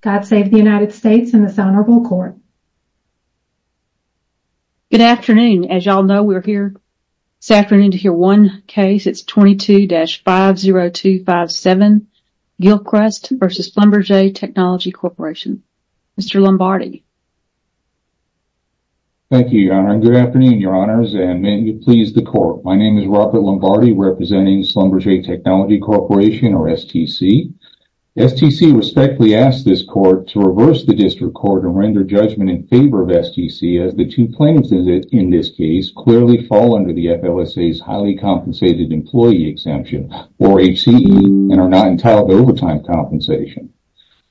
God save the United States and this honorable court. Good afternoon. As you all know, we're here this afternoon to hear one case. It's 22-50257 Gilchrist v. Schlumberger Technology Corporation. Mr. Lombardi. Thank you, Your Honor, and good afternoon, Your Honors, and may it please the Court. My name is Robert Lombardi, representing Schlumberger Technology Corporation, or STC. STC respectfully asks this court to reverse the district court and render judgment in favor of STC as the two plaintiffs in this case clearly fall under the FLSA's highly compensated employee exemption, or HCE, and are not entitled to overtime compensation.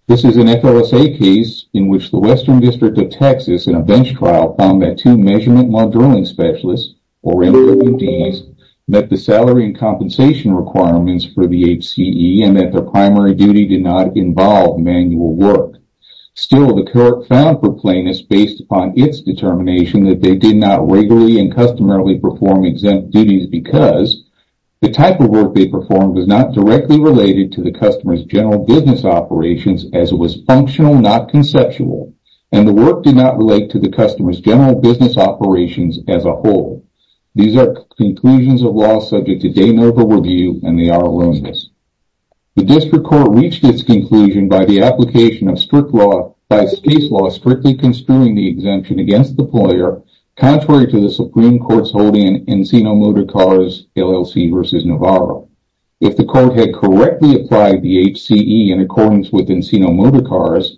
This is an FLSA case in which the Western District of Texas, in a bench trial, found that two measurement monitoring specialists, or MDs, met the salary and compensation requirements for the HCE and that their primary duty did not involve manual work. Still, the court found for plaintiffs, based upon its determination, that they did not regularly and customarily perform exempt duties because the type of work they performed was not directly related to the customer's general business operations as it was functional, not conceptual, and the work did not relate to the customer's general business operations as a whole. These are conclusions of law subject to day and over view, and they are loomis. The district court reached its conclusion by the application of strict law, by its case law, strictly construing the exemption against the employer, contrary to the Supreme Court's holding in Encino Motor Cars LLC versus Navarro. If the court had correctly applied the HCE in accordance with Encino Motor Cars,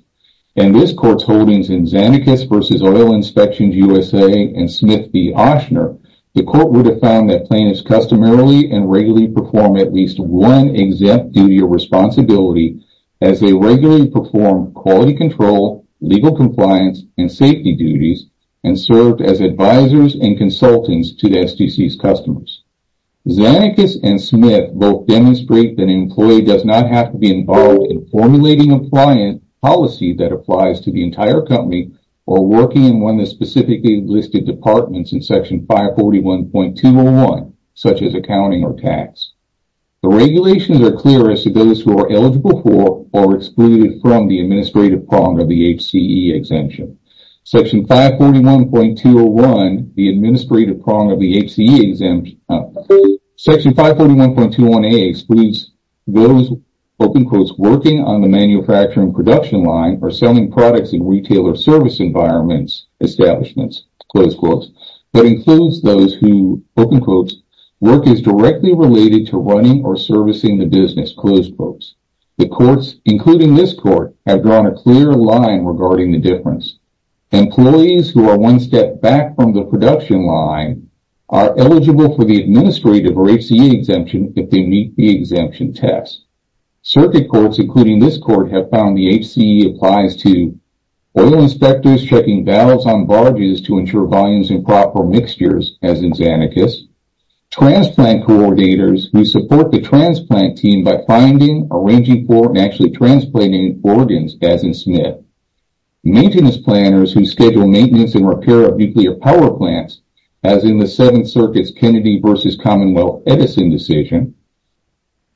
and this court's holdings in Zanicus versus Oil Inspections USA and Smith v. Ochsner, the court would have found that plaintiffs customarily and regularly perform at least one exempt duty or responsibility as they regularly perform quality control, legal compliance, and safety duties and served as advisors and consultants to the SGC's customers. Zanicus and Smith both demonstrate that an employee does not have to be involved in formulating a client policy that applies to the entire company or working in one of the specifically listed departments in section 541.201, such as accounting or tax. The regulations are clear as to those who are eligible for or excluded from the administrative prong of the HCE exemption. Section 541.201, the administrative prong of the HCE exemption, section 541.21a excludes those open quotes working on the manufacturing production line or selling products in service environments establishments, close quotes, but includes those who open quotes work is directly related to running or servicing the business, close quotes. The courts, including this court, have drawn a clear line regarding the difference. Employees who are one step back from the production line are eligible for the administrative or HCE exemption if they meet the exemption test. Circuit courts, including this court, have found the HCE applies to oil inspectors checking valves on barges to ensure volumes and proper mixtures, as in Zanicus. Transplant coordinators who support the transplant team by finding, arranging for, and actually transplanting organs, as in Smith. Maintenance planners who schedule maintenance and repair of nuclear power plants, as in the Seventh Circuit's Kennedy v. Commonwealth Edison decision.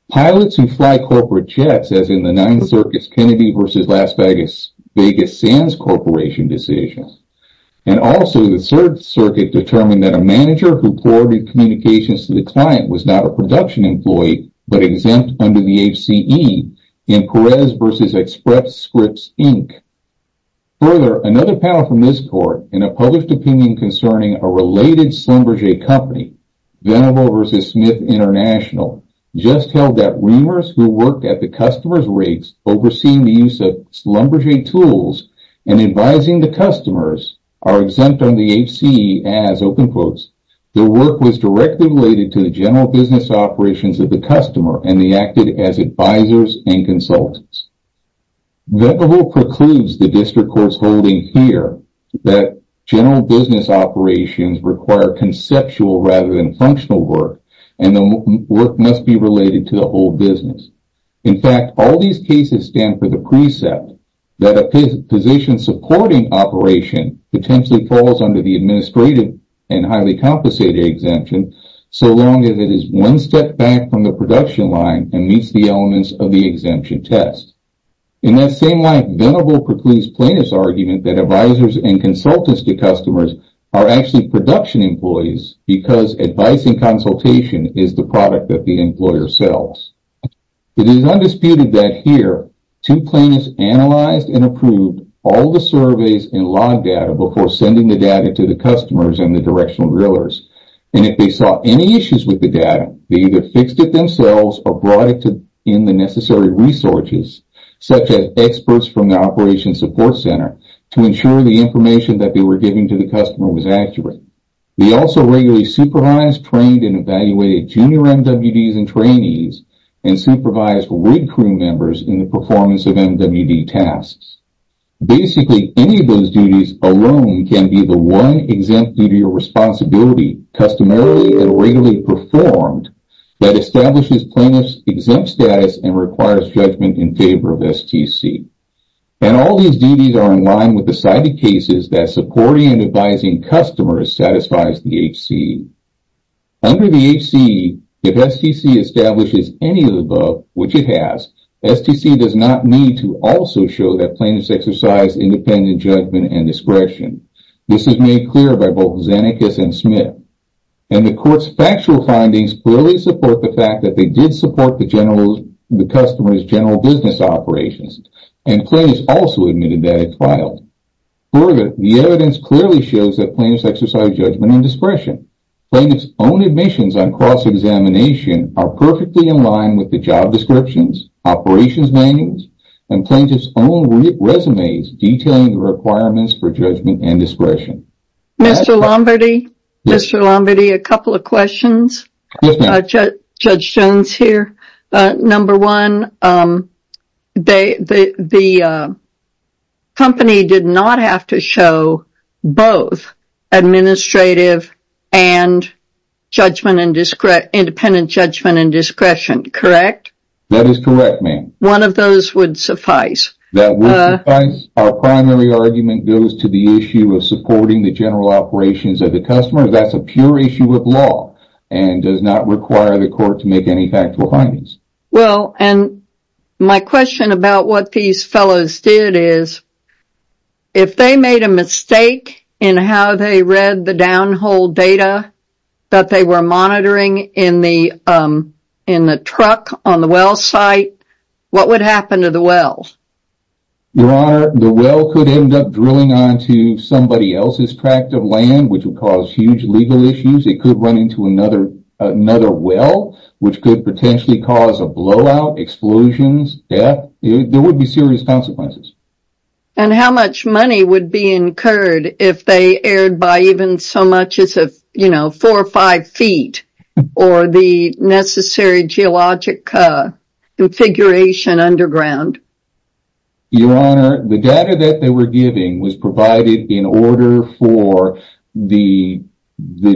Pilots who fly corporate jets, as in the Ninth Circuit's Kennedy v. Las Vegas Sands Corporation decision. And also the Third Circuit determined that a manager who forwarded communications to the client was not a production employee but exempt under the HCE in Perez v. Express Scripts, Inc. Further, another panel from this court, in a published opinion concerning a related Schlumberger company, Venable v. Smith International, just held that reamers who worked at the customer's rates overseeing the use of Schlumberger tools and advising the customers are exempt under the HCE as, open quotes, their work was directly related to the general business operations of the customer and they acted as advisors and consultants. Venable precludes the district court's holding here that general business operations require conceptual rather than functional work and the work must be related to the whole business. In fact, all these cases stand for the precept that a position supporting operation potentially falls under the administrative and highly compensated exemption so long as it is one step back from the production line and meets the elements of the exemption test. In that same line, Venable precludes plaintiff's argument that advisors and consultants to customers are actually production employees because advice and consultation is the product that the employer sells. It is undisputed that here two plaintiffs analyzed and approved all the surveys and log data before sending the data to the customers and the directional drillers and if they saw any issues with the data, they either fixed it themselves or brought it to in the necessary resources such as experts from the operations support center to ensure the information that they were giving to the customer was accurate. They also regularly supervised, trained, and evaluated junior MWDs and trainees and supervised rig crew members in the Basically, any of those duties alone can be the one exempt due to your responsibility customarily and regularly performed that establishes plaintiff's exempt status and requires judgment in favor of STC and all these duties are in line with the cited cases that supporting and advising customers satisfies the HCE. Under the HCE, if STC establishes any of the above, which it has, STC does not need to also show that plaintiffs exercise independent judgment and discretion. This is made clear by both Xenakis and Smith and the court's factual findings clearly support the fact that they did support the general the customer's general business operations and plaintiffs also admitted that it filed. Further, the evidence clearly shows that plaintiffs exercise judgment and discretion. Plaintiffs own admissions on cross-examination are perfectly in line with job descriptions, operations manuals, and plaintiffs own resumes detailing the requirements for judgment and discretion. Mr. Lombardi, a couple of questions. Judge Jones here. Number one, the company did not have to show both administrative and independent judgment and discretion, correct? That is correct, ma'am. One of those would suffice. That would suffice. Our primary argument goes to the issue of supporting the general operations of the customer. That's a pure issue of law and does not require the court to make any factual findings. Well, and my question about what these fellows did is, if they made a mistake in how they read the downhole data that they were monitoring in the truck on the well site, what would happen to the well? Your honor, the well could end up drilling onto somebody else's tract of land, which would cause huge legal issues. It could run into another well, which could potentially cause a blowout, explosions, death. There would be serious consequences. And how much money would be incurred if they erred by even so much as, you know, four or five feet or the necessary geologic configuration underground? Your honor, the data that they were giving was provided in order for the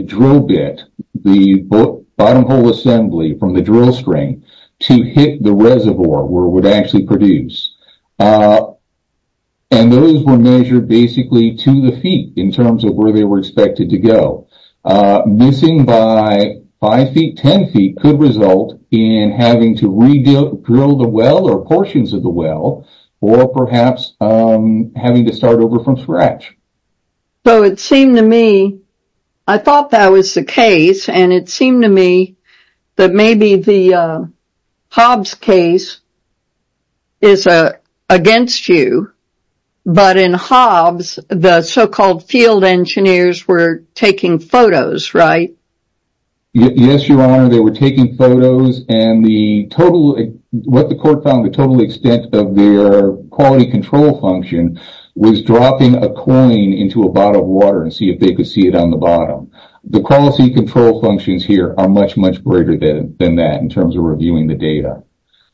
drill bit, the bottom hole assembly from the drill string to hit the reservoir where it would produce. And those were measured basically to the feet in terms of where they were expected to go. Missing by five feet, ten feet could result in having to re-drill the well or portions of the well or perhaps having to start over from scratch. So it seemed to me, I thought that was the case, and it seemed to me that maybe the Hobbs case is against you, but in Hobbs the so-called field engineers were taking photos, right? Yes, your honor, they were taking photos and the total, what the court found, the total extent of their quality control function was dropping a coin into a bottle of water and see if they could see it on the bottom. The quality control functions here are much, much greater than that in terms of reviewing the data.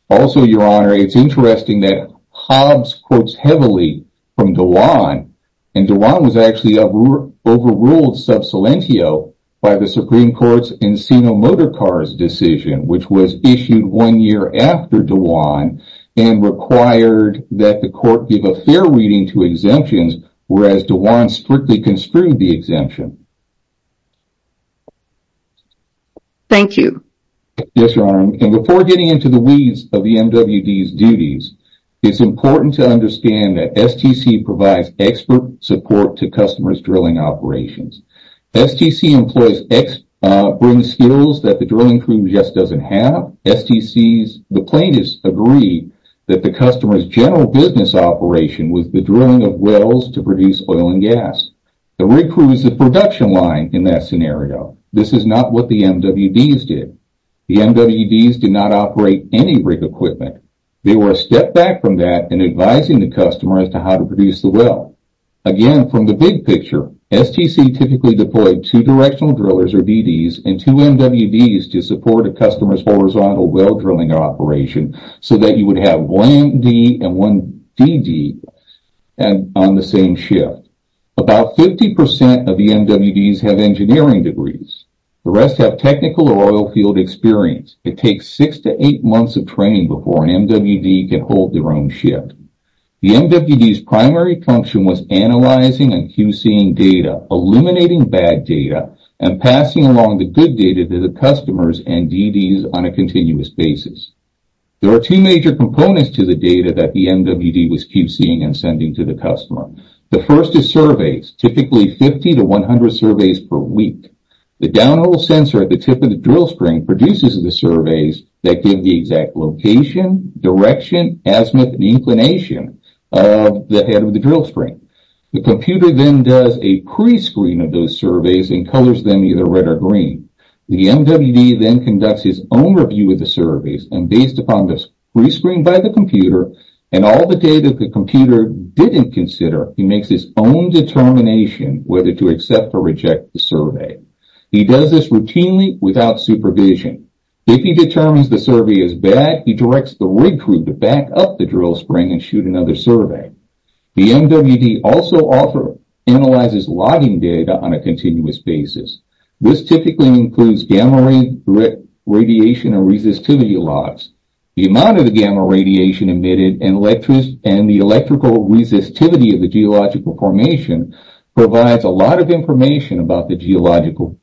Also, your honor, it's interesting that Hobbs quotes heavily from Dewan, and Dewan was actually overruled sub salientio by the Supreme Court's Encino Motor Cars decision, which was issued one year after Dewan and required that the court give a fair reading to exemptions, whereas Dewan strictly construed the exemption. Thank you. Yes, your honor, and before getting into the weeds of the MWD's duties, it's important to understand that STC provides expert support to customers drilling operations. STC employees bring skills that the drilling crew just doesn't have. STC's plaintiffs agree that the customer's general business operation was the drilling of wells to produce oil and gas. The rig crew is the production line in that scenario. This is not what the MWD's did. The MWD's did not operate any rig equipment. They were a step back from that in advising the customer as to how to produce the well. Again, from the big picture, STC typically deployed two directional drillers, or DDs, and two MWDs to support a customer's horizontal well drilling operation so that you would have one MD and one DD on the same shift. About 50% of the MWD's have engineering degrees. The rest have technical or oil field experience. It takes six to eight months of training before an MWD can hold their own shift. The MWD's primary function was analyzing and QCing data, eliminating bad data, and passing along the good data to the customers and DDs on a continuous basis. There are two major components to the data that the MWD was QCing and sending to the customer. The first is surveys, typically 50 to 100 surveys per week. The downhole sensor at the tip of the MWD is the measurement and inclination of the head of the drill spring. The computer then does a pre-screen of those surveys and colors them either red or green. The MWD then conducts his own review of the surveys and based upon the pre-screen by the computer and all the data the computer didn't consider, he makes his own determination whether to accept or reject the survey. He does this routinely without supervision. If he determines the survey is bad, he directs the rig crew to back up the drill spring and shoot another survey. The MWD also analyzes logging data on a continuous basis. This typically includes gamma radiation and resistivity logs. The amount of the gamma radiation emitted and the electrical resistivity of the geological formation provides a lot of information about the geological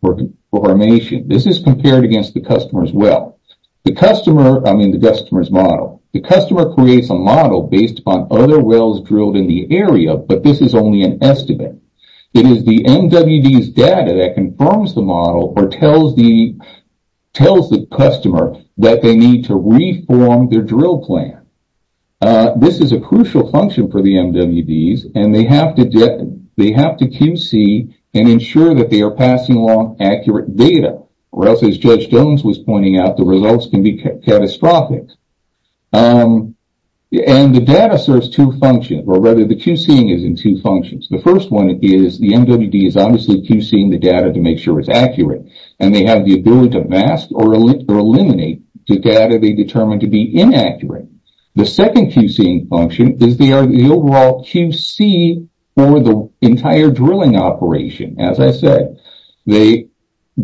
formation. This is compared against the customer's well. The customer, I mean the customer's model, the customer creates a model based upon other wells drilled in the area, but this is only an estimate. It is the MWD's data that confirms the model or tells the customer that they need to reform their drill plan. This is a crucial function for the MWDs and they have to QC and ensure that they are passing along accurate data or else, as Judge Jones was pointing out, the results can be catastrophic. The data serves two functions or rather the QCing is in two functions. The first one is the MWD is obviously QCing the data to make sure it's accurate and they have the ability to mask or eliminate the data they determine to be inaccurate. The second QCing function is the overall QC for the entire drilling operation. As I said, they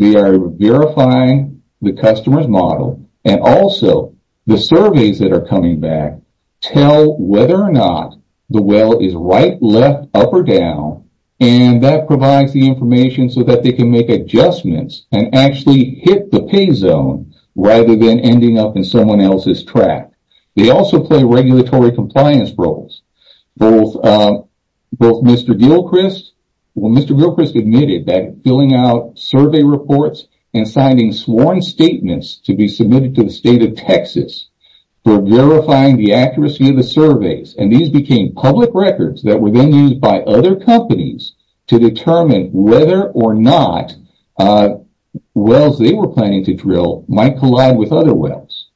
are verifying the customer's model and also the surveys that are coming back tell whether or not the well is right, left, up, or down and that provides the information so that they can make adjustments and actually hit the pay zone rather than ending up in someone else's rack. They also play regulatory compliance roles. Both Mr. Gilchrist, well Mr. Gilchrist admitted that filling out survey reports and signing sworn statements to be submitted to the state of Texas for verifying the accuracy of the surveys and these became public records that were then used by other companies to determine whether or not wells they were planning to drill might collide with other wells.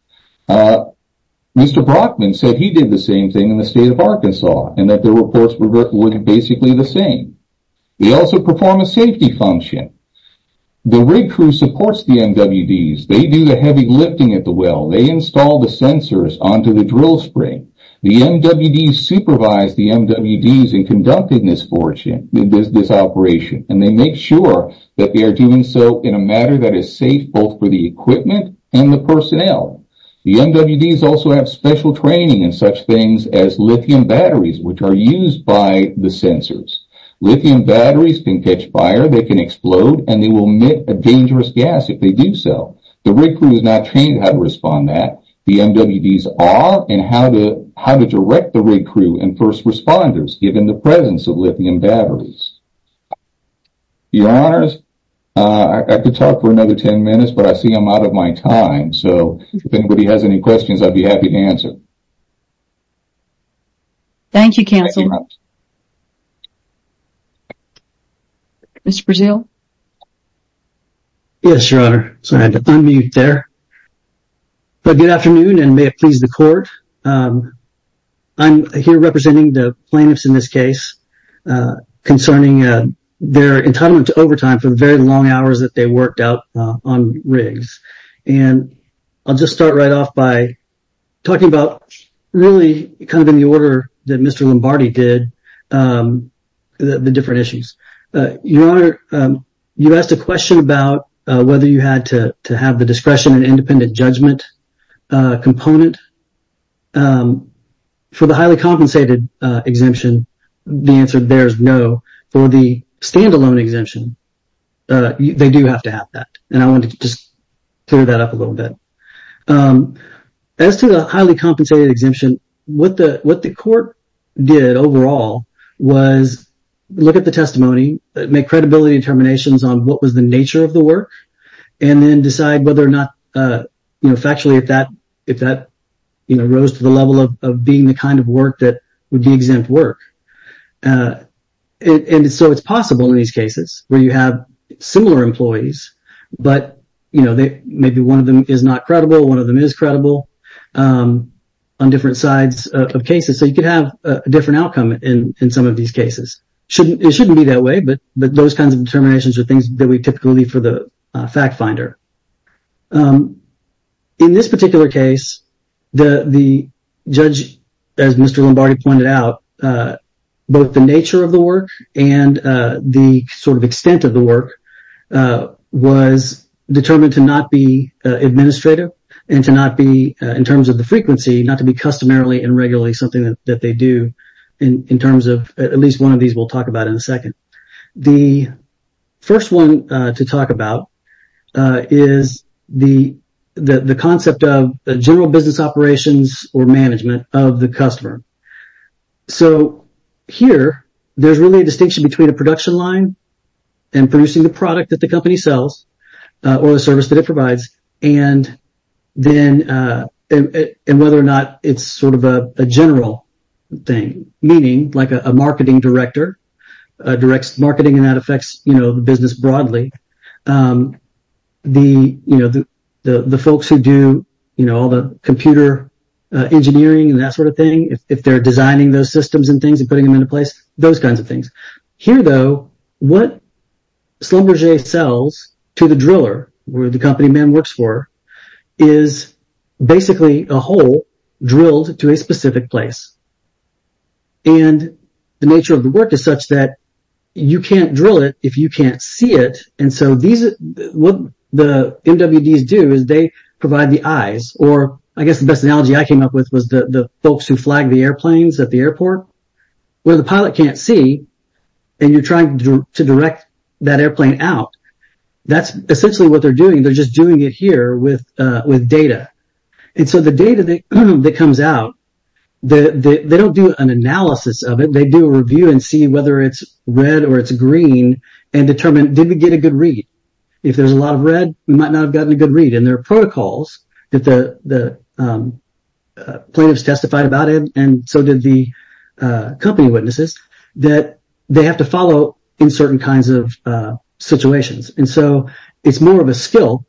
Mr. Brockman said he did the same thing in the state of Arkansas and that the reports were basically the same. They also perform a safety function. The rig crew supports the MWDs. They do the heavy lifting at the well. They install the sensors onto the drill spring. The MWDs supervise the MWDs in conducting this operation and they make sure that they are doing so in a manner that is safe both for the equipment and the personnel. The MWDs also have special training in such things as lithium batteries which are used by the sensors. Lithium batteries can catch fire, they can explode, and they will emit a dangerous gas if they do so. The rig crew is not trained how to respond that. The MWDs are and how to how to direct the rig crew and first responders given the presence of lithium batteries. Your honors, I could talk for another 10 minutes but I see I'm out of my time so if anybody has any questions I'd be happy to answer. Thank you counsel. Mr. Brazeal. Yes your honor, sorry to unmute there but good afternoon and may it please the court. I'm here representing the plaintiffs in this case concerning their entitlement to overtime for the very long hours that they worked out on rigs and I'll just start right off by talking about really kind of in the order that Mr. Lombardi did the different issues. Your honor, you asked a question about whether you had to to have the discretion and independent judgment component. For the highly compensated exemption, the answer there is no. For the standalone exemption, they do have to have that and I want to just clear that up a little bit. As to the highly compensated exemption, what the what the court did overall was look at the testimony, make credibility determinations on what was the nature of the work, and then decide whether or not factually if that rose to the level of being the kind of work that would be exempt work. So it's possible in these cases where you have similar employees but maybe one of them is not credible, one of them is credible on different sides of cases. So you could have a different outcome in some of these cases. It shouldn't be that way but those kinds of determinations are things that we typically leave for the fact finder. In this particular case, the judge, as Mr. Lombardi pointed out, both the nature of the work and the sort of extent of the work was determined to not be administrative and to not be, in terms of the frequency, not to be customarily and regularly something that they do in terms of, at least one of these we'll talk about in a second. The first one to talk about is the concept of the general business operations or management of the customer. So here there's really a distinction between a production line and producing the product that the company sells or the service that it provides and then and whether or not it's sort of a general thing, meaning like a marketing director directs marketing and that affects the business broadly. The folks who do all the computer engineering and that sort of thing, if they're designing those systems and things and putting them into place, those kinds of things. Here though, what Schlumberger sells to the driller, where the company man works for, is basically a hole drilled to a specific place. And the nature of the work is such that you can't drill it if you can't see it. And so what the MWDs do is they provide the eyes, or I guess the best analogy I came up with was the folks who flag the airplanes at the airport, where the pilot can't see and you're trying to direct that airplane out. That's essentially what they're doing. They're just doing it here with data. And so the data that comes out, they don't do an analysis of it. They do a review and see whether it's red or it's green and determine, did we get a good read? If there's a lot of red, we might not have gotten a good read. And there are protocols that the plaintiffs testified about it and so did the company witnesses, that they have to follow in certain kinds of situations. And so it's more of a skill,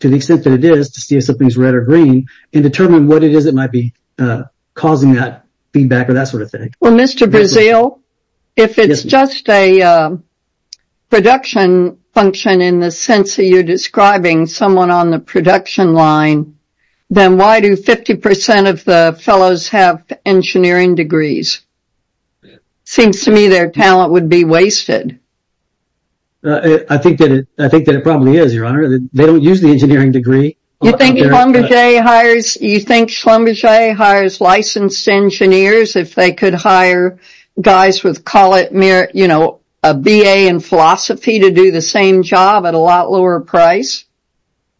to the extent that it is, to see if something's red or green and determine what it is that might be causing that feedback or that sort of thing. Well, Mr. Brazeal, if it's just a production function in the sense that you're describing someone on the production line, then why do 50 percent of the fellows have engineering degrees? Seems to me their talent would be wasted. I think that it probably is, Your Honor. They don't use the engineering degree. You think Schlumberger hires licensed engineers if they could hire guys with, call it mere, you know, a BA in philosophy to do the same job at a lot lower price?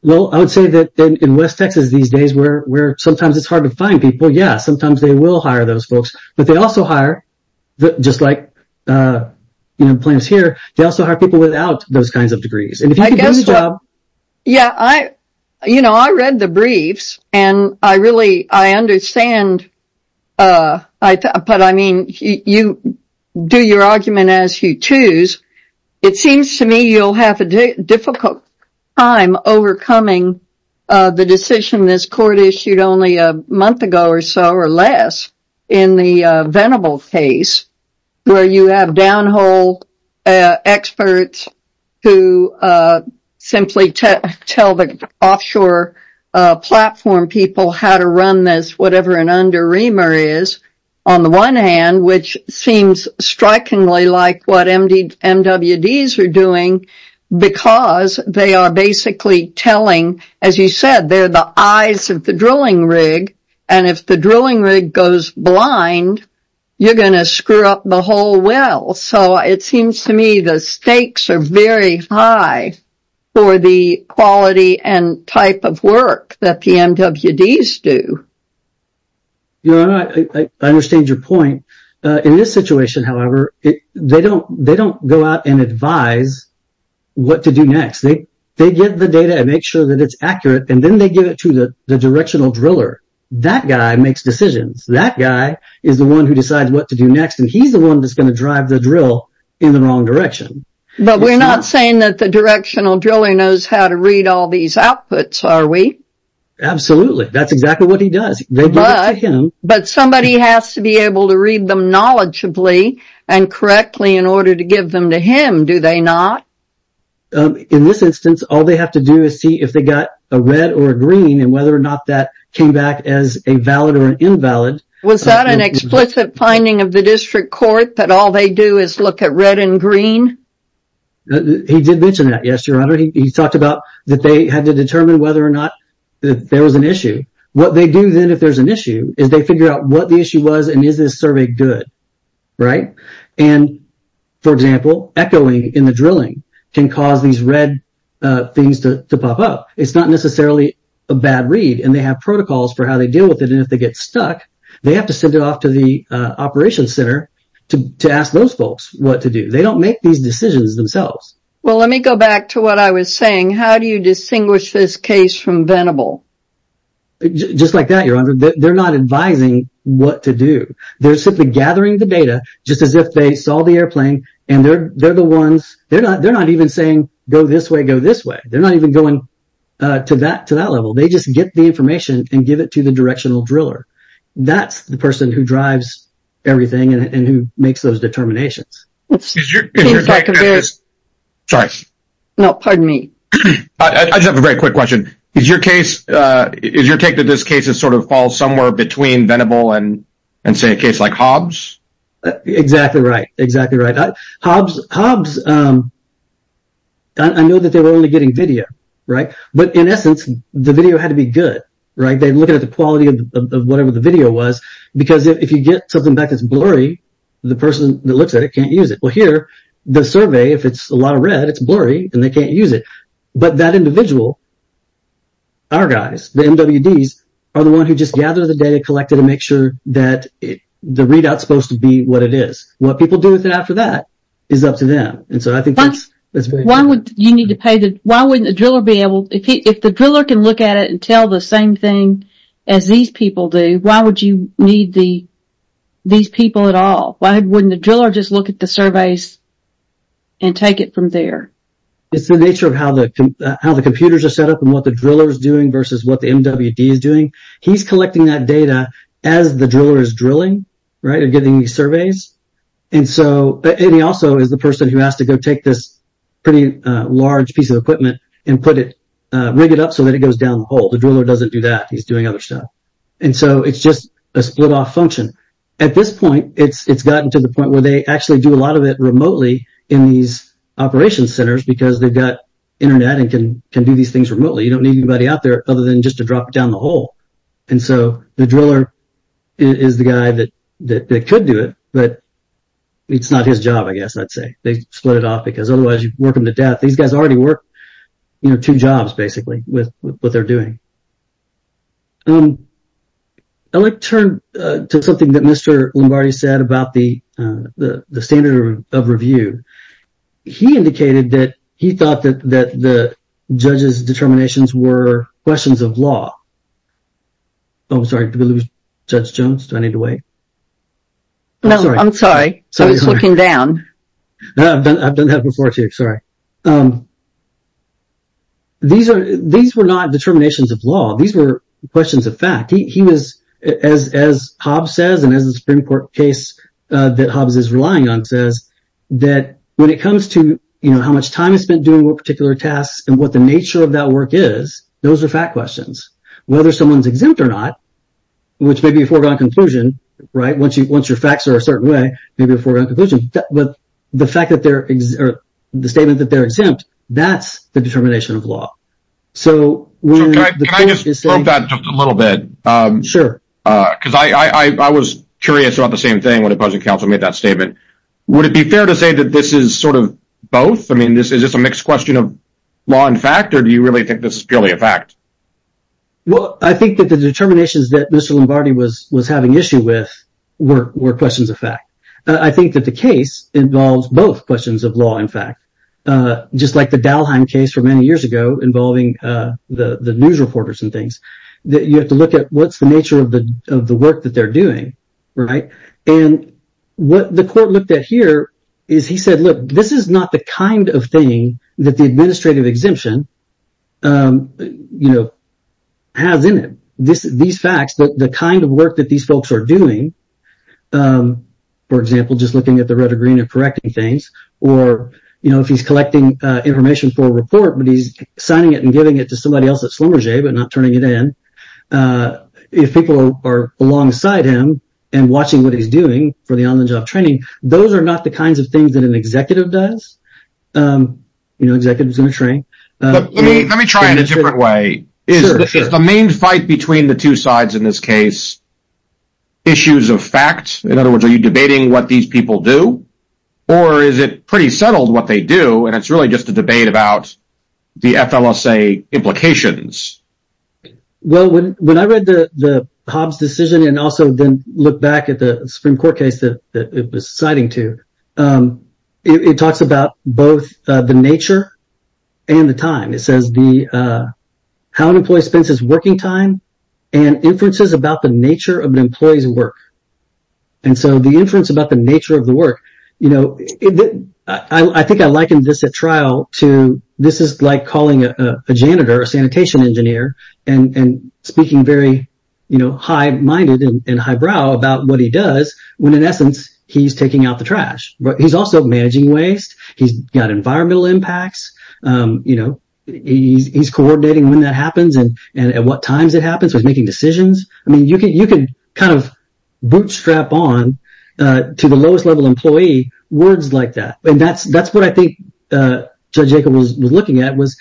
Well, I would say that in West Texas these days where sometimes it's hard to find people, yeah, sometimes they will hire those folks. But they also hire, just like the plaintiffs here, they also hire people without those kinds of degrees. And if you could do the job... Yeah, I, you know, I read the briefs and I really, I understand, but I mean, you do your argument as you choose. It seems to me you'll have a difficult time overcoming the decision this court issued only a month ago or so or less in the Venable case where you have downhole experts who simply tell the offshore platform people how to run this, whatever an under reamer is, on the one hand, which seems strikingly like what MWDs are doing because they are basically telling, as you said, they're the eyes of the drilling rig. And if the drilling rig goes blind, you're going to screw up the whole well. So it seems to me the stakes are very high for the quality and type of work that the MWDs do. Your Honor, I understand your point. In this situation, however, they don't go out and advise what to do next. They get the data and make sure that it's accurate. And then they give it to the directional driller. That guy makes decisions. That guy is the one who decides what to do next. And he's the one that's going to drive the drill in the wrong direction. But we're not saying that the directional driller knows how to read all these outputs, are we? Absolutely. That's exactly what he does. But somebody has to be able to read them knowledgeably and correctly in order to give them to him, do they not? In this instance, all they have to do is see if they got a red or green and whether or not that came back as a valid or invalid. Was that an explicit finding of the district court that all they do is look at red and green? He did mention that, yes, Your Honor. He talked about that they had to determine whether or not there was an issue. What they do then if there's an issue is they figure out what the issue was and is this survey good, right? And, for example, echoing in the drilling can cause these red things to pop up. It's not necessarily a bad read and they have protocols for how they deal with it. And if they get stuck, they have to send it off to the operations center to ask those folks what to do. They don't make these decisions themselves. Well, let me go back to what I was saying. How do you distinguish this case from Venable? Just like that, Your Honor. They're not advising what to do. They're simply gathering the data just as if they saw the airplane and they're the ones, they're not even saying go this way, go this way. They're not even going to that level. They just get the information and give it to the directional driller. That's the person who drives everything and who makes those determinations. Sorry. No, pardon me. I just have a very quick question. Is your take that this case is sort of falls somewhere between Venable and say a case like Hobbs? Exactly right. Exactly right. Hobbs, I know that they were only getting video, right? But, in essence, the video had to be good, right? They're looking at the quality of whatever the video was because if you get something back that's blurry, the person that looks at it can't use it. Well, here, the survey, if it's a lot of red, it's blurry and they can't use it. But that individual, our guys, the MWDs, are the ones who just gather the data, collect it, and make sure that the readout is supposed to be what it is. What people do with it after that is up to them. And so I think that's very important. Why wouldn't a driller be able, if the driller can look at it and tell the same thing as these people do, why would you need these people at all? Why wouldn't the driller just look at the surveys and take it from there? It's the nature of how the computers are set up and what the driller is doing versus what the MWD is doing. He's collecting that data as the driller is drilling, right? And getting these surveys. And he also is the person who has to go take this pretty large piece of equipment and put it, rig it up so that it goes down the hole. The driller doesn't do that. He's doing other stuff. And so it's just a split off function. At this point, it's gotten to the point where they actually do a lot of it remotely in these operations centers because they've got internet and can do these things remotely. You don't need anybody out there other than just to drop it down the hole. And so the driller is the guy that could do it, but it's not his job, I guess I'd say. They split it off because otherwise you'd work them to death. These guys already work two jobs, basically, with what they're doing. I'd like to turn to something that Mr. Lombardi said about the standard of review. He indicated that he thought that the judge's determinations were questions of law. Oh, I'm sorry. Did we lose Judge Jones? Do I need to wait? No, I'm sorry. I was looking down. No, I've done that before too. Sorry. These were not determinations of law. These were questions of fact. He was, as Hobbes says, and as the Supreme Court case that Hobbes is relying on says, that when it comes to how much time is spent doing what particular tasks and what the nature of that work is, those are fact questions. Whether someone's exempt or not, which may be a foregone conclusion, right? Once your facts are a certain way, maybe a foregone conclusion, but the statement that they're exempt, that's the determination of law. Can I just interrupt that just a little bit? Sure. Because I was curious about the same thing when the Budget Council made that statement. Would it be fair to say that this is sort of both? I mean, is this a mixed question of law and fact, or do you really think this is purely a fact? Well, I think that the determinations that Mr. Lombardi was having issue with were questions of fact. I think that the case involves both questions of law and fact, just like the Dalheim case from many years ago involving the news reporters and things. You have to look at what's the nature of the work that they're doing, right? And what the court looked at here is he said, look, this is not the kind of thing that the administrative exemption has in it. These facts, the kind of work that these folks are doing, for example, just looking at the red or green and correcting things, or if he's collecting information for a report, but he's signing it and giving it to somebody else at Schlumberger, but not turning it in. If people are alongside him and watching what he's doing for the on-the-job training, those are not the kinds of things that an executive does. An executive is going to train. Let me try it a different way. Is the main fight between the two sides in this case issues of fact? In other words, are you debating what these people do, or is it pretty settled what they do, and it's really just a debate about the FLSA implications? Well, when I read the Hobbs decision and also then look back at the Supreme Court case that it was citing to, it talks about both the nature and the time. It says the how an employee spends his working time and inferences about the nature of an employee's work. And so the inference about the nature of the work, you know, I think I liken this at trial to this is like calling a janitor or sanitation engineer and speaking very high-minded and highbrow about what he does when, in essence, he's taking out the trash. He's also managing waste. He's got environmental impacts. He's coordinating when that happens and at what times it happens. He's making decisions. I mean, you can kind of bootstrap on to the lowest-level employee words like that. And that's what I think Judge Jacob was looking at, was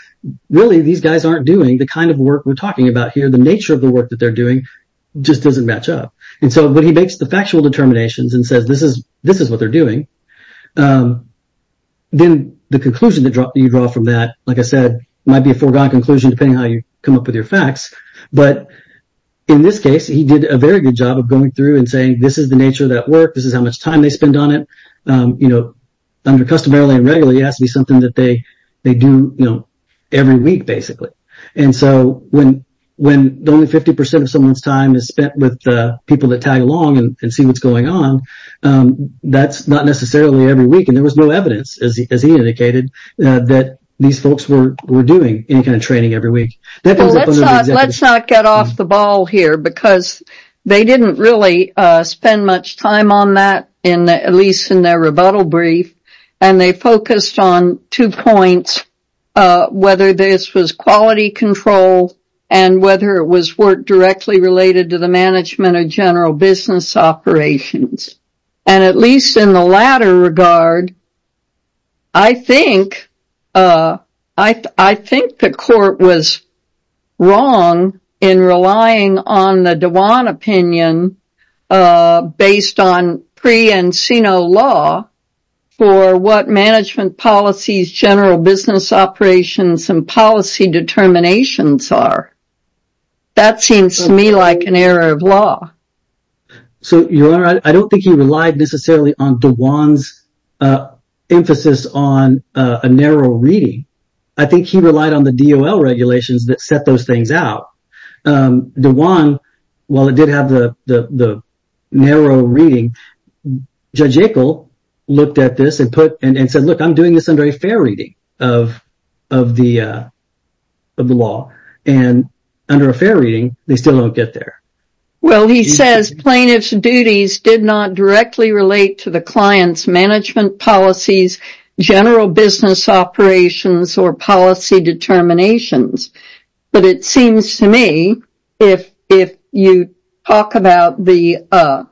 really these guys aren't doing the kind of work we're talking about here. The nature of the work that they're doing just doesn't match up. And so when he makes the factual determinations and says this is what they're doing, then the conclusion that you draw from that, like I said, might be a foregone conclusion depending on how you come up with your facts. But in this case, he did a very good job of going through and saying this is the nature of that work. This is how much time they spend on it. Under customarily and regularly, it has to be something that they do every week, basically. And so when only 50% of someone's time is spent with people that tag along and see what's going on, that's not necessarily every week. And there was no evidence, as he indicated, that these folks were doing any kind of training every week. Well, let's not get off the ball here because they didn't really spend much time on that, at least in their rebuttal brief. And they focused on two points, whether this was quality control and whether it was work directly related to the management of general business operations. And at least in the latter regard, I think the court was wrong in relying on the Dewan opinion based on pre and Sino law for what management policies, general business operations, and policy determinations are. That seems to me like an error of law. So, Your Honor, I don't think he relied necessarily on Dewan's emphasis on a narrow reading. I think he relied on the DOL regulations that set those things out. Dewan, while it did have the narrow reading, Judge Akel looked at this and said, look, I'm doing this under a fair reading of the law. And under a fair reading, they still don't get there. Well, he says plaintiff's duties did not directly relate to the client's management policies, general business operations, or policy determinations. But it seems to me if you talk about the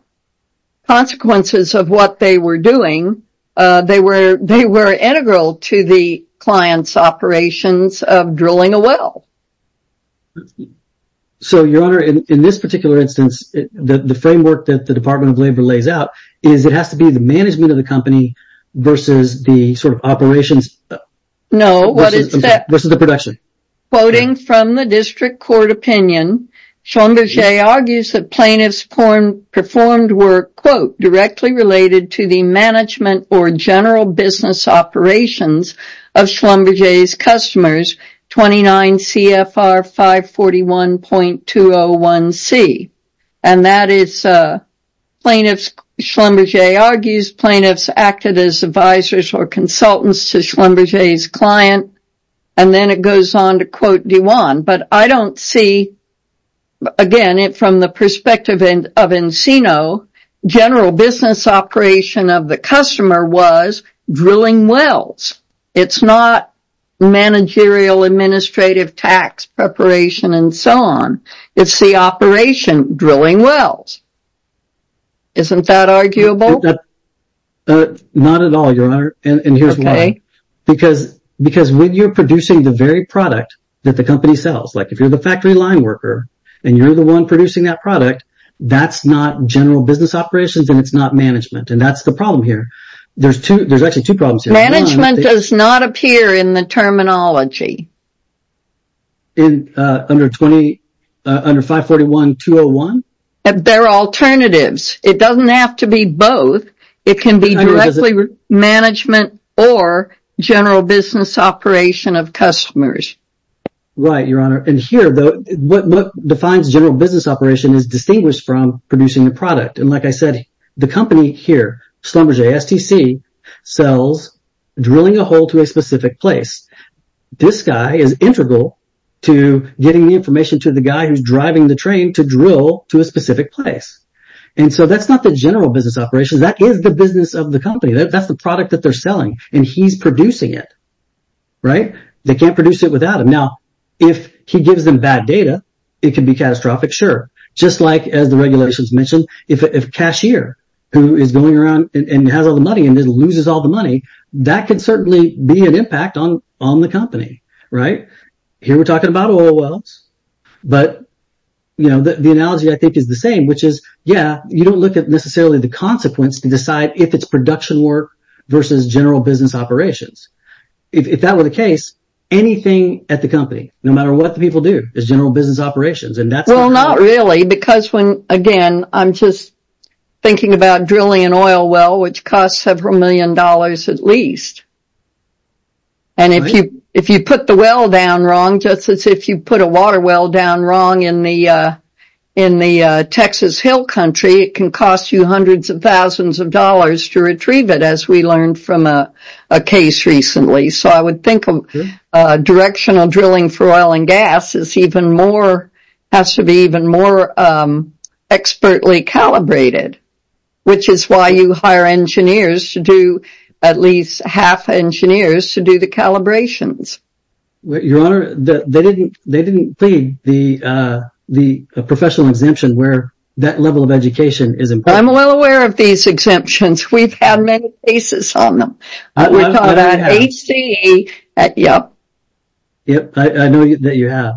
consequences of what they were doing, they were integral to the client's operations of drilling a well. So, Your Honor, in this particular instance, the framework that the Department of Labor lays out is it has to be the management of the company versus the sort of operations. No. What is the production? Quoting from the district court opinion, Schlumberger argues that plaintiffs performed work, quote, directly related to the management or general business operations of Schlumberger's customers, 29 CFR 541.201C. And that is plaintiffs, Schlumberger argues, plaintiffs acted as advisors or consultants to Schlumberger's client. And then it goes on to quote Dewan. But I don't see, again, from the perspective of Encino, general business operation of the customer was drilling wells. It's not managerial, administrative, tax preparation, and so on. It's the operation, drilling wells. Isn't that arguable? Not at all, Your Honor. And here's why. Because when you're producing the very product that the company sells, like if you're the factory line worker and you're the one producing that product, that's not general business operations and it's not management. And that's the problem here. There's actually two problems here. Management does not appear in the terminology. Under 541.201? There are alternatives. It doesn't have to be both. It can be directly management or general business operation of customers. Right, Your Honor. And here, though, what defines general business operation is distinguished from producing the product. And like I said, the company here, Schlumberger STC, sells drilling a hole to a specific place. This guy is integral to getting the information to the guy who's driving the train to drill to a specific place. And so that's not the general business operation. That is the business of the company. That's the product that they're selling, and he's producing it. Right? They can't produce it without him. Now, if he gives them bad data, it can be catastrophic. Sure. Just like, as the regulations mentioned, if a cashier who is going around and has all the money and loses all the money, that can certainly be an impact on the company. Right? Here we're talking about oil wells. But the analogy, I think, is the same, which is, yeah, you don't look at necessarily the consequence to decide if it's production work versus general business operations. If that were the case, anything at the company, no matter what the people do, is general business operations. Well, not really, because when, I'm just thinking about drilling an oil well, which costs several million dollars at least. And if you put the well down wrong, just as if you put a water well down wrong in the Texas Hill Country, it can cost you hundreds of thousands of dollars to retrieve it, as we learned from a case recently. So I would think directional drilling for oil and gas is even more, has to be more expertly calibrated, which is why you hire engineers to do, at least half engineers, to do the calibrations. Your Honor, they didn't plead the professional exemption where that level of education is important. I'm well aware of these exemptions. We've had many cases on them. We call that HCE. Yep. Yep. I know that you have.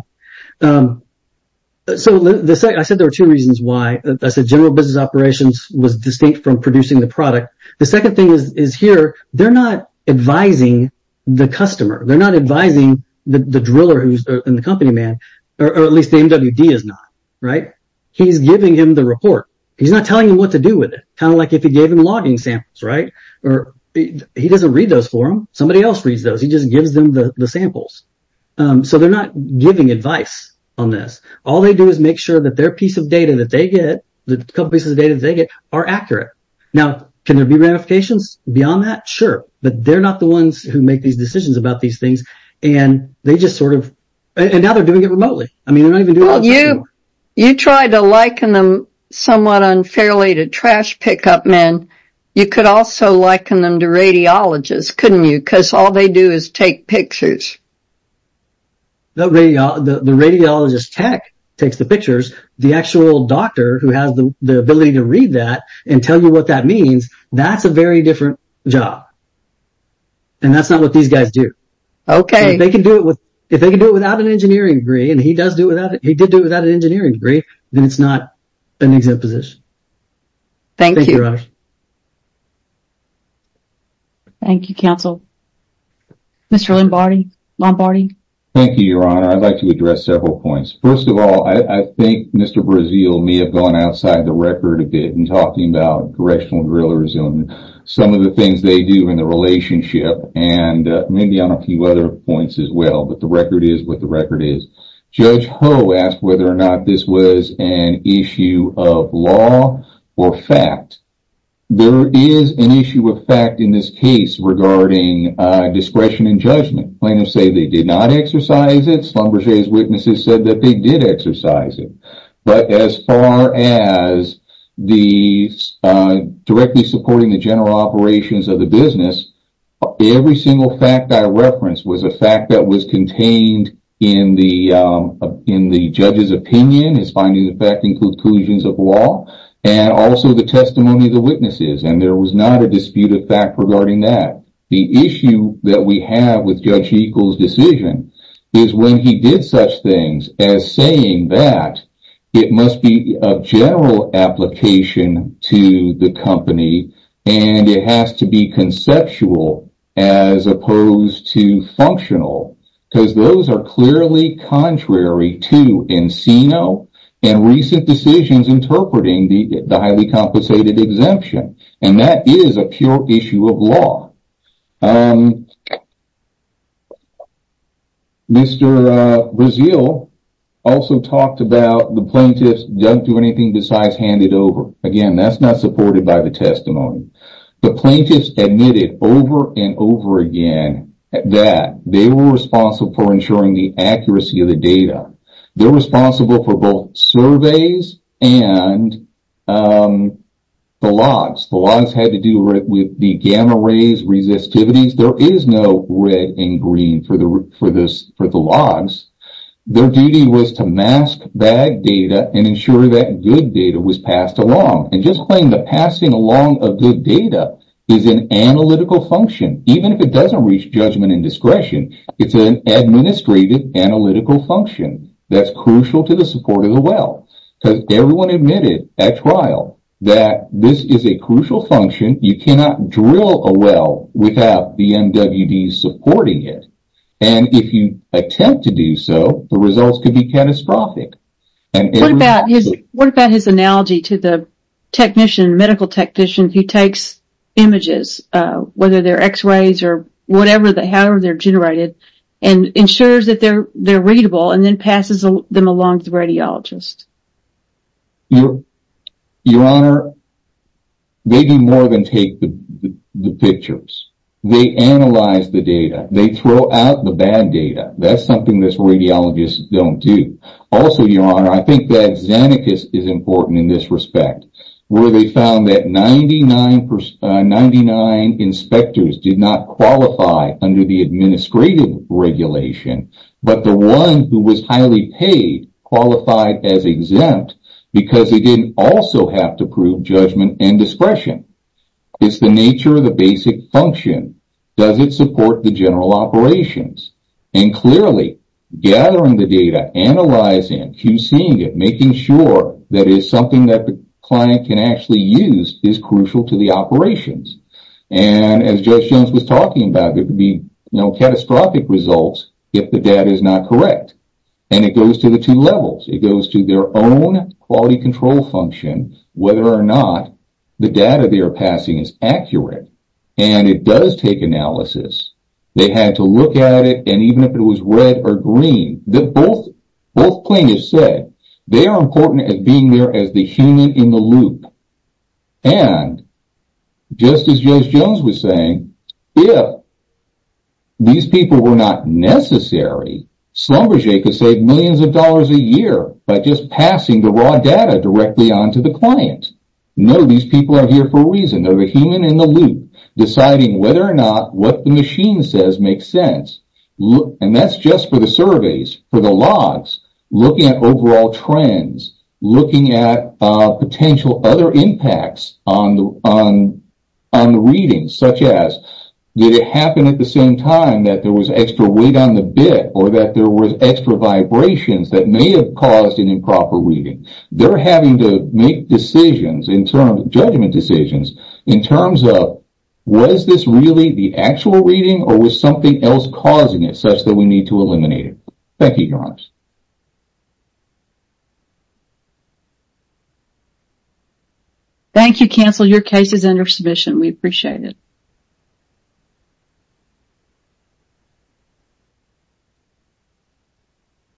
So I said there were two reasons why I said general business operations was distinct from producing the product. The second thing is here, they're not advising the customer. They're not advising the driller who's in the company, man, or at least the MWD is not, right? He's giving him the report. He's not telling him what to do with it, kind of like if he gave him logging samples, or he doesn't read those for him. Somebody else reads those. He just gives them the samples. So they're not giving advice on this. All they do is make sure that their piece of data that they get, the couple pieces of data that they get, are accurate. Now, can there be ramifications beyond that? Sure, but they're not the ones who make these decisions about these things, and they just sort of, and now they're doing it remotely. I mean, they're not even doing it You could also liken them to radiologists, couldn't you? Because all they do is take pictures. The radiologist tech takes the pictures. The actual doctor who has the ability to read that and tell you what that means, that's a very different job, and that's not what these guys do. Okay. They can do it with, if they can do it without an engineering degree, and he does do it without it, he did do it without an engineering degree, then it's not an exempt position. Thank you, Your Honor. Thank you, counsel. Mr. Lombardi. Thank you, Your Honor. I'd like to address several points. First of all, I think Mr. Brazeal may have gone outside the record a bit in talking about directional drillers and some of the things they do in the relationship, and maybe on a few other points as well, but the record is what the record is. Judge Ho asked whether or not this was an issue of law or fact. There is an issue of fact in this case regarding discretion and judgment. Plaintiffs say they did not exercise it. Schlumberger's witnesses said that they did exercise it, but as far as the directly supporting the general operations of the business, every single fact I referenced was a fact that was contained in the judge's opinion, his finding the fact includes collusions of law, and also the testimony of the witnesses, and there was not a dispute of fact regarding that. The issue that we have with Judge Hegel's decision is when he did such things as saying that it must be of general application to the company and it has to be conceptual as opposed to functional, because those are clearly contrary to Encino and recent decisions interpreting the highly compensated exemption, and that is a pure issue of law. Mr. Brazeal also talked about the plaintiffs don't do anything besides hand it over. Again, that's not supported by the testimony. The plaintiffs admitted over and over again that they were responsible for ensuring the accuracy of the data. They're responsible for both surveys and the logs. The logs had to do with the gamma rays resistivities. There is no red and green for the logs. Their duty was to mask bad data and ensure that good data was passed along, and just playing the passing along of good data is an analytical function. Even if it doesn't reach judgment and discretion, it's an administrative analytical function that's crucial to the support of the well, because everyone admitted at trial that this is a crucial function. You cannot drill a well without the MWD supporting it, and if you attempt to do so, the results could be catastrophic. What about his analogy to the technician, the medical technician who takes images, whether they're x-rays or whatever, however they're generated, and ensures that they're readable and then passes them along to the radiologist? Your Honor, they do more than take the pictures. They analyze the data. They throw out the bad data. That's something that radiologists don't do. Also, Your Honor, I think that Xenakis is important in this respect, where they found that 99 inspectors did not qualify under the because they didn't also have to prove judgment and discretion. It's the nature of the basic function. Does it support the general operations? Clearly, gathering the data, analyzing it, QCing it, making sure that it's something that the client can actually use is crucial to the operations. As Judge Jones was talking about, there could be catastrophic results if the data is not correct. It goes to the two levels. It goes to their own quality control function, whether or not the data they are passing is accurate. It does take analysis. They had to look at it, and even if it was red or green, both plaintiffs said they are important at being there as the human in the loop. Just as Judge Jones was saying, if these people were not necessary, Schlumberger could save millions of dollars a year by just passing the raw data directly onto the client. No, these people are here for a reason. They are the human in the loop, deciding whether or not what the machine says makes sense. That's just for the surveys, for the logs, looking at overall trends, looking at potential other impacts on the readings, such as did it happen at the same time that there was extra weight on the bit, or that there were extra vibrations that may have caused an improper reading. They are having to make decisions, judgment decisions, in terms of was this really the actual reading, or was something else causing it such that we need to eliminate it? Thank you, Your Honors. Thank you, Counsel. Your case is under submission. We appreciate it. Thank you.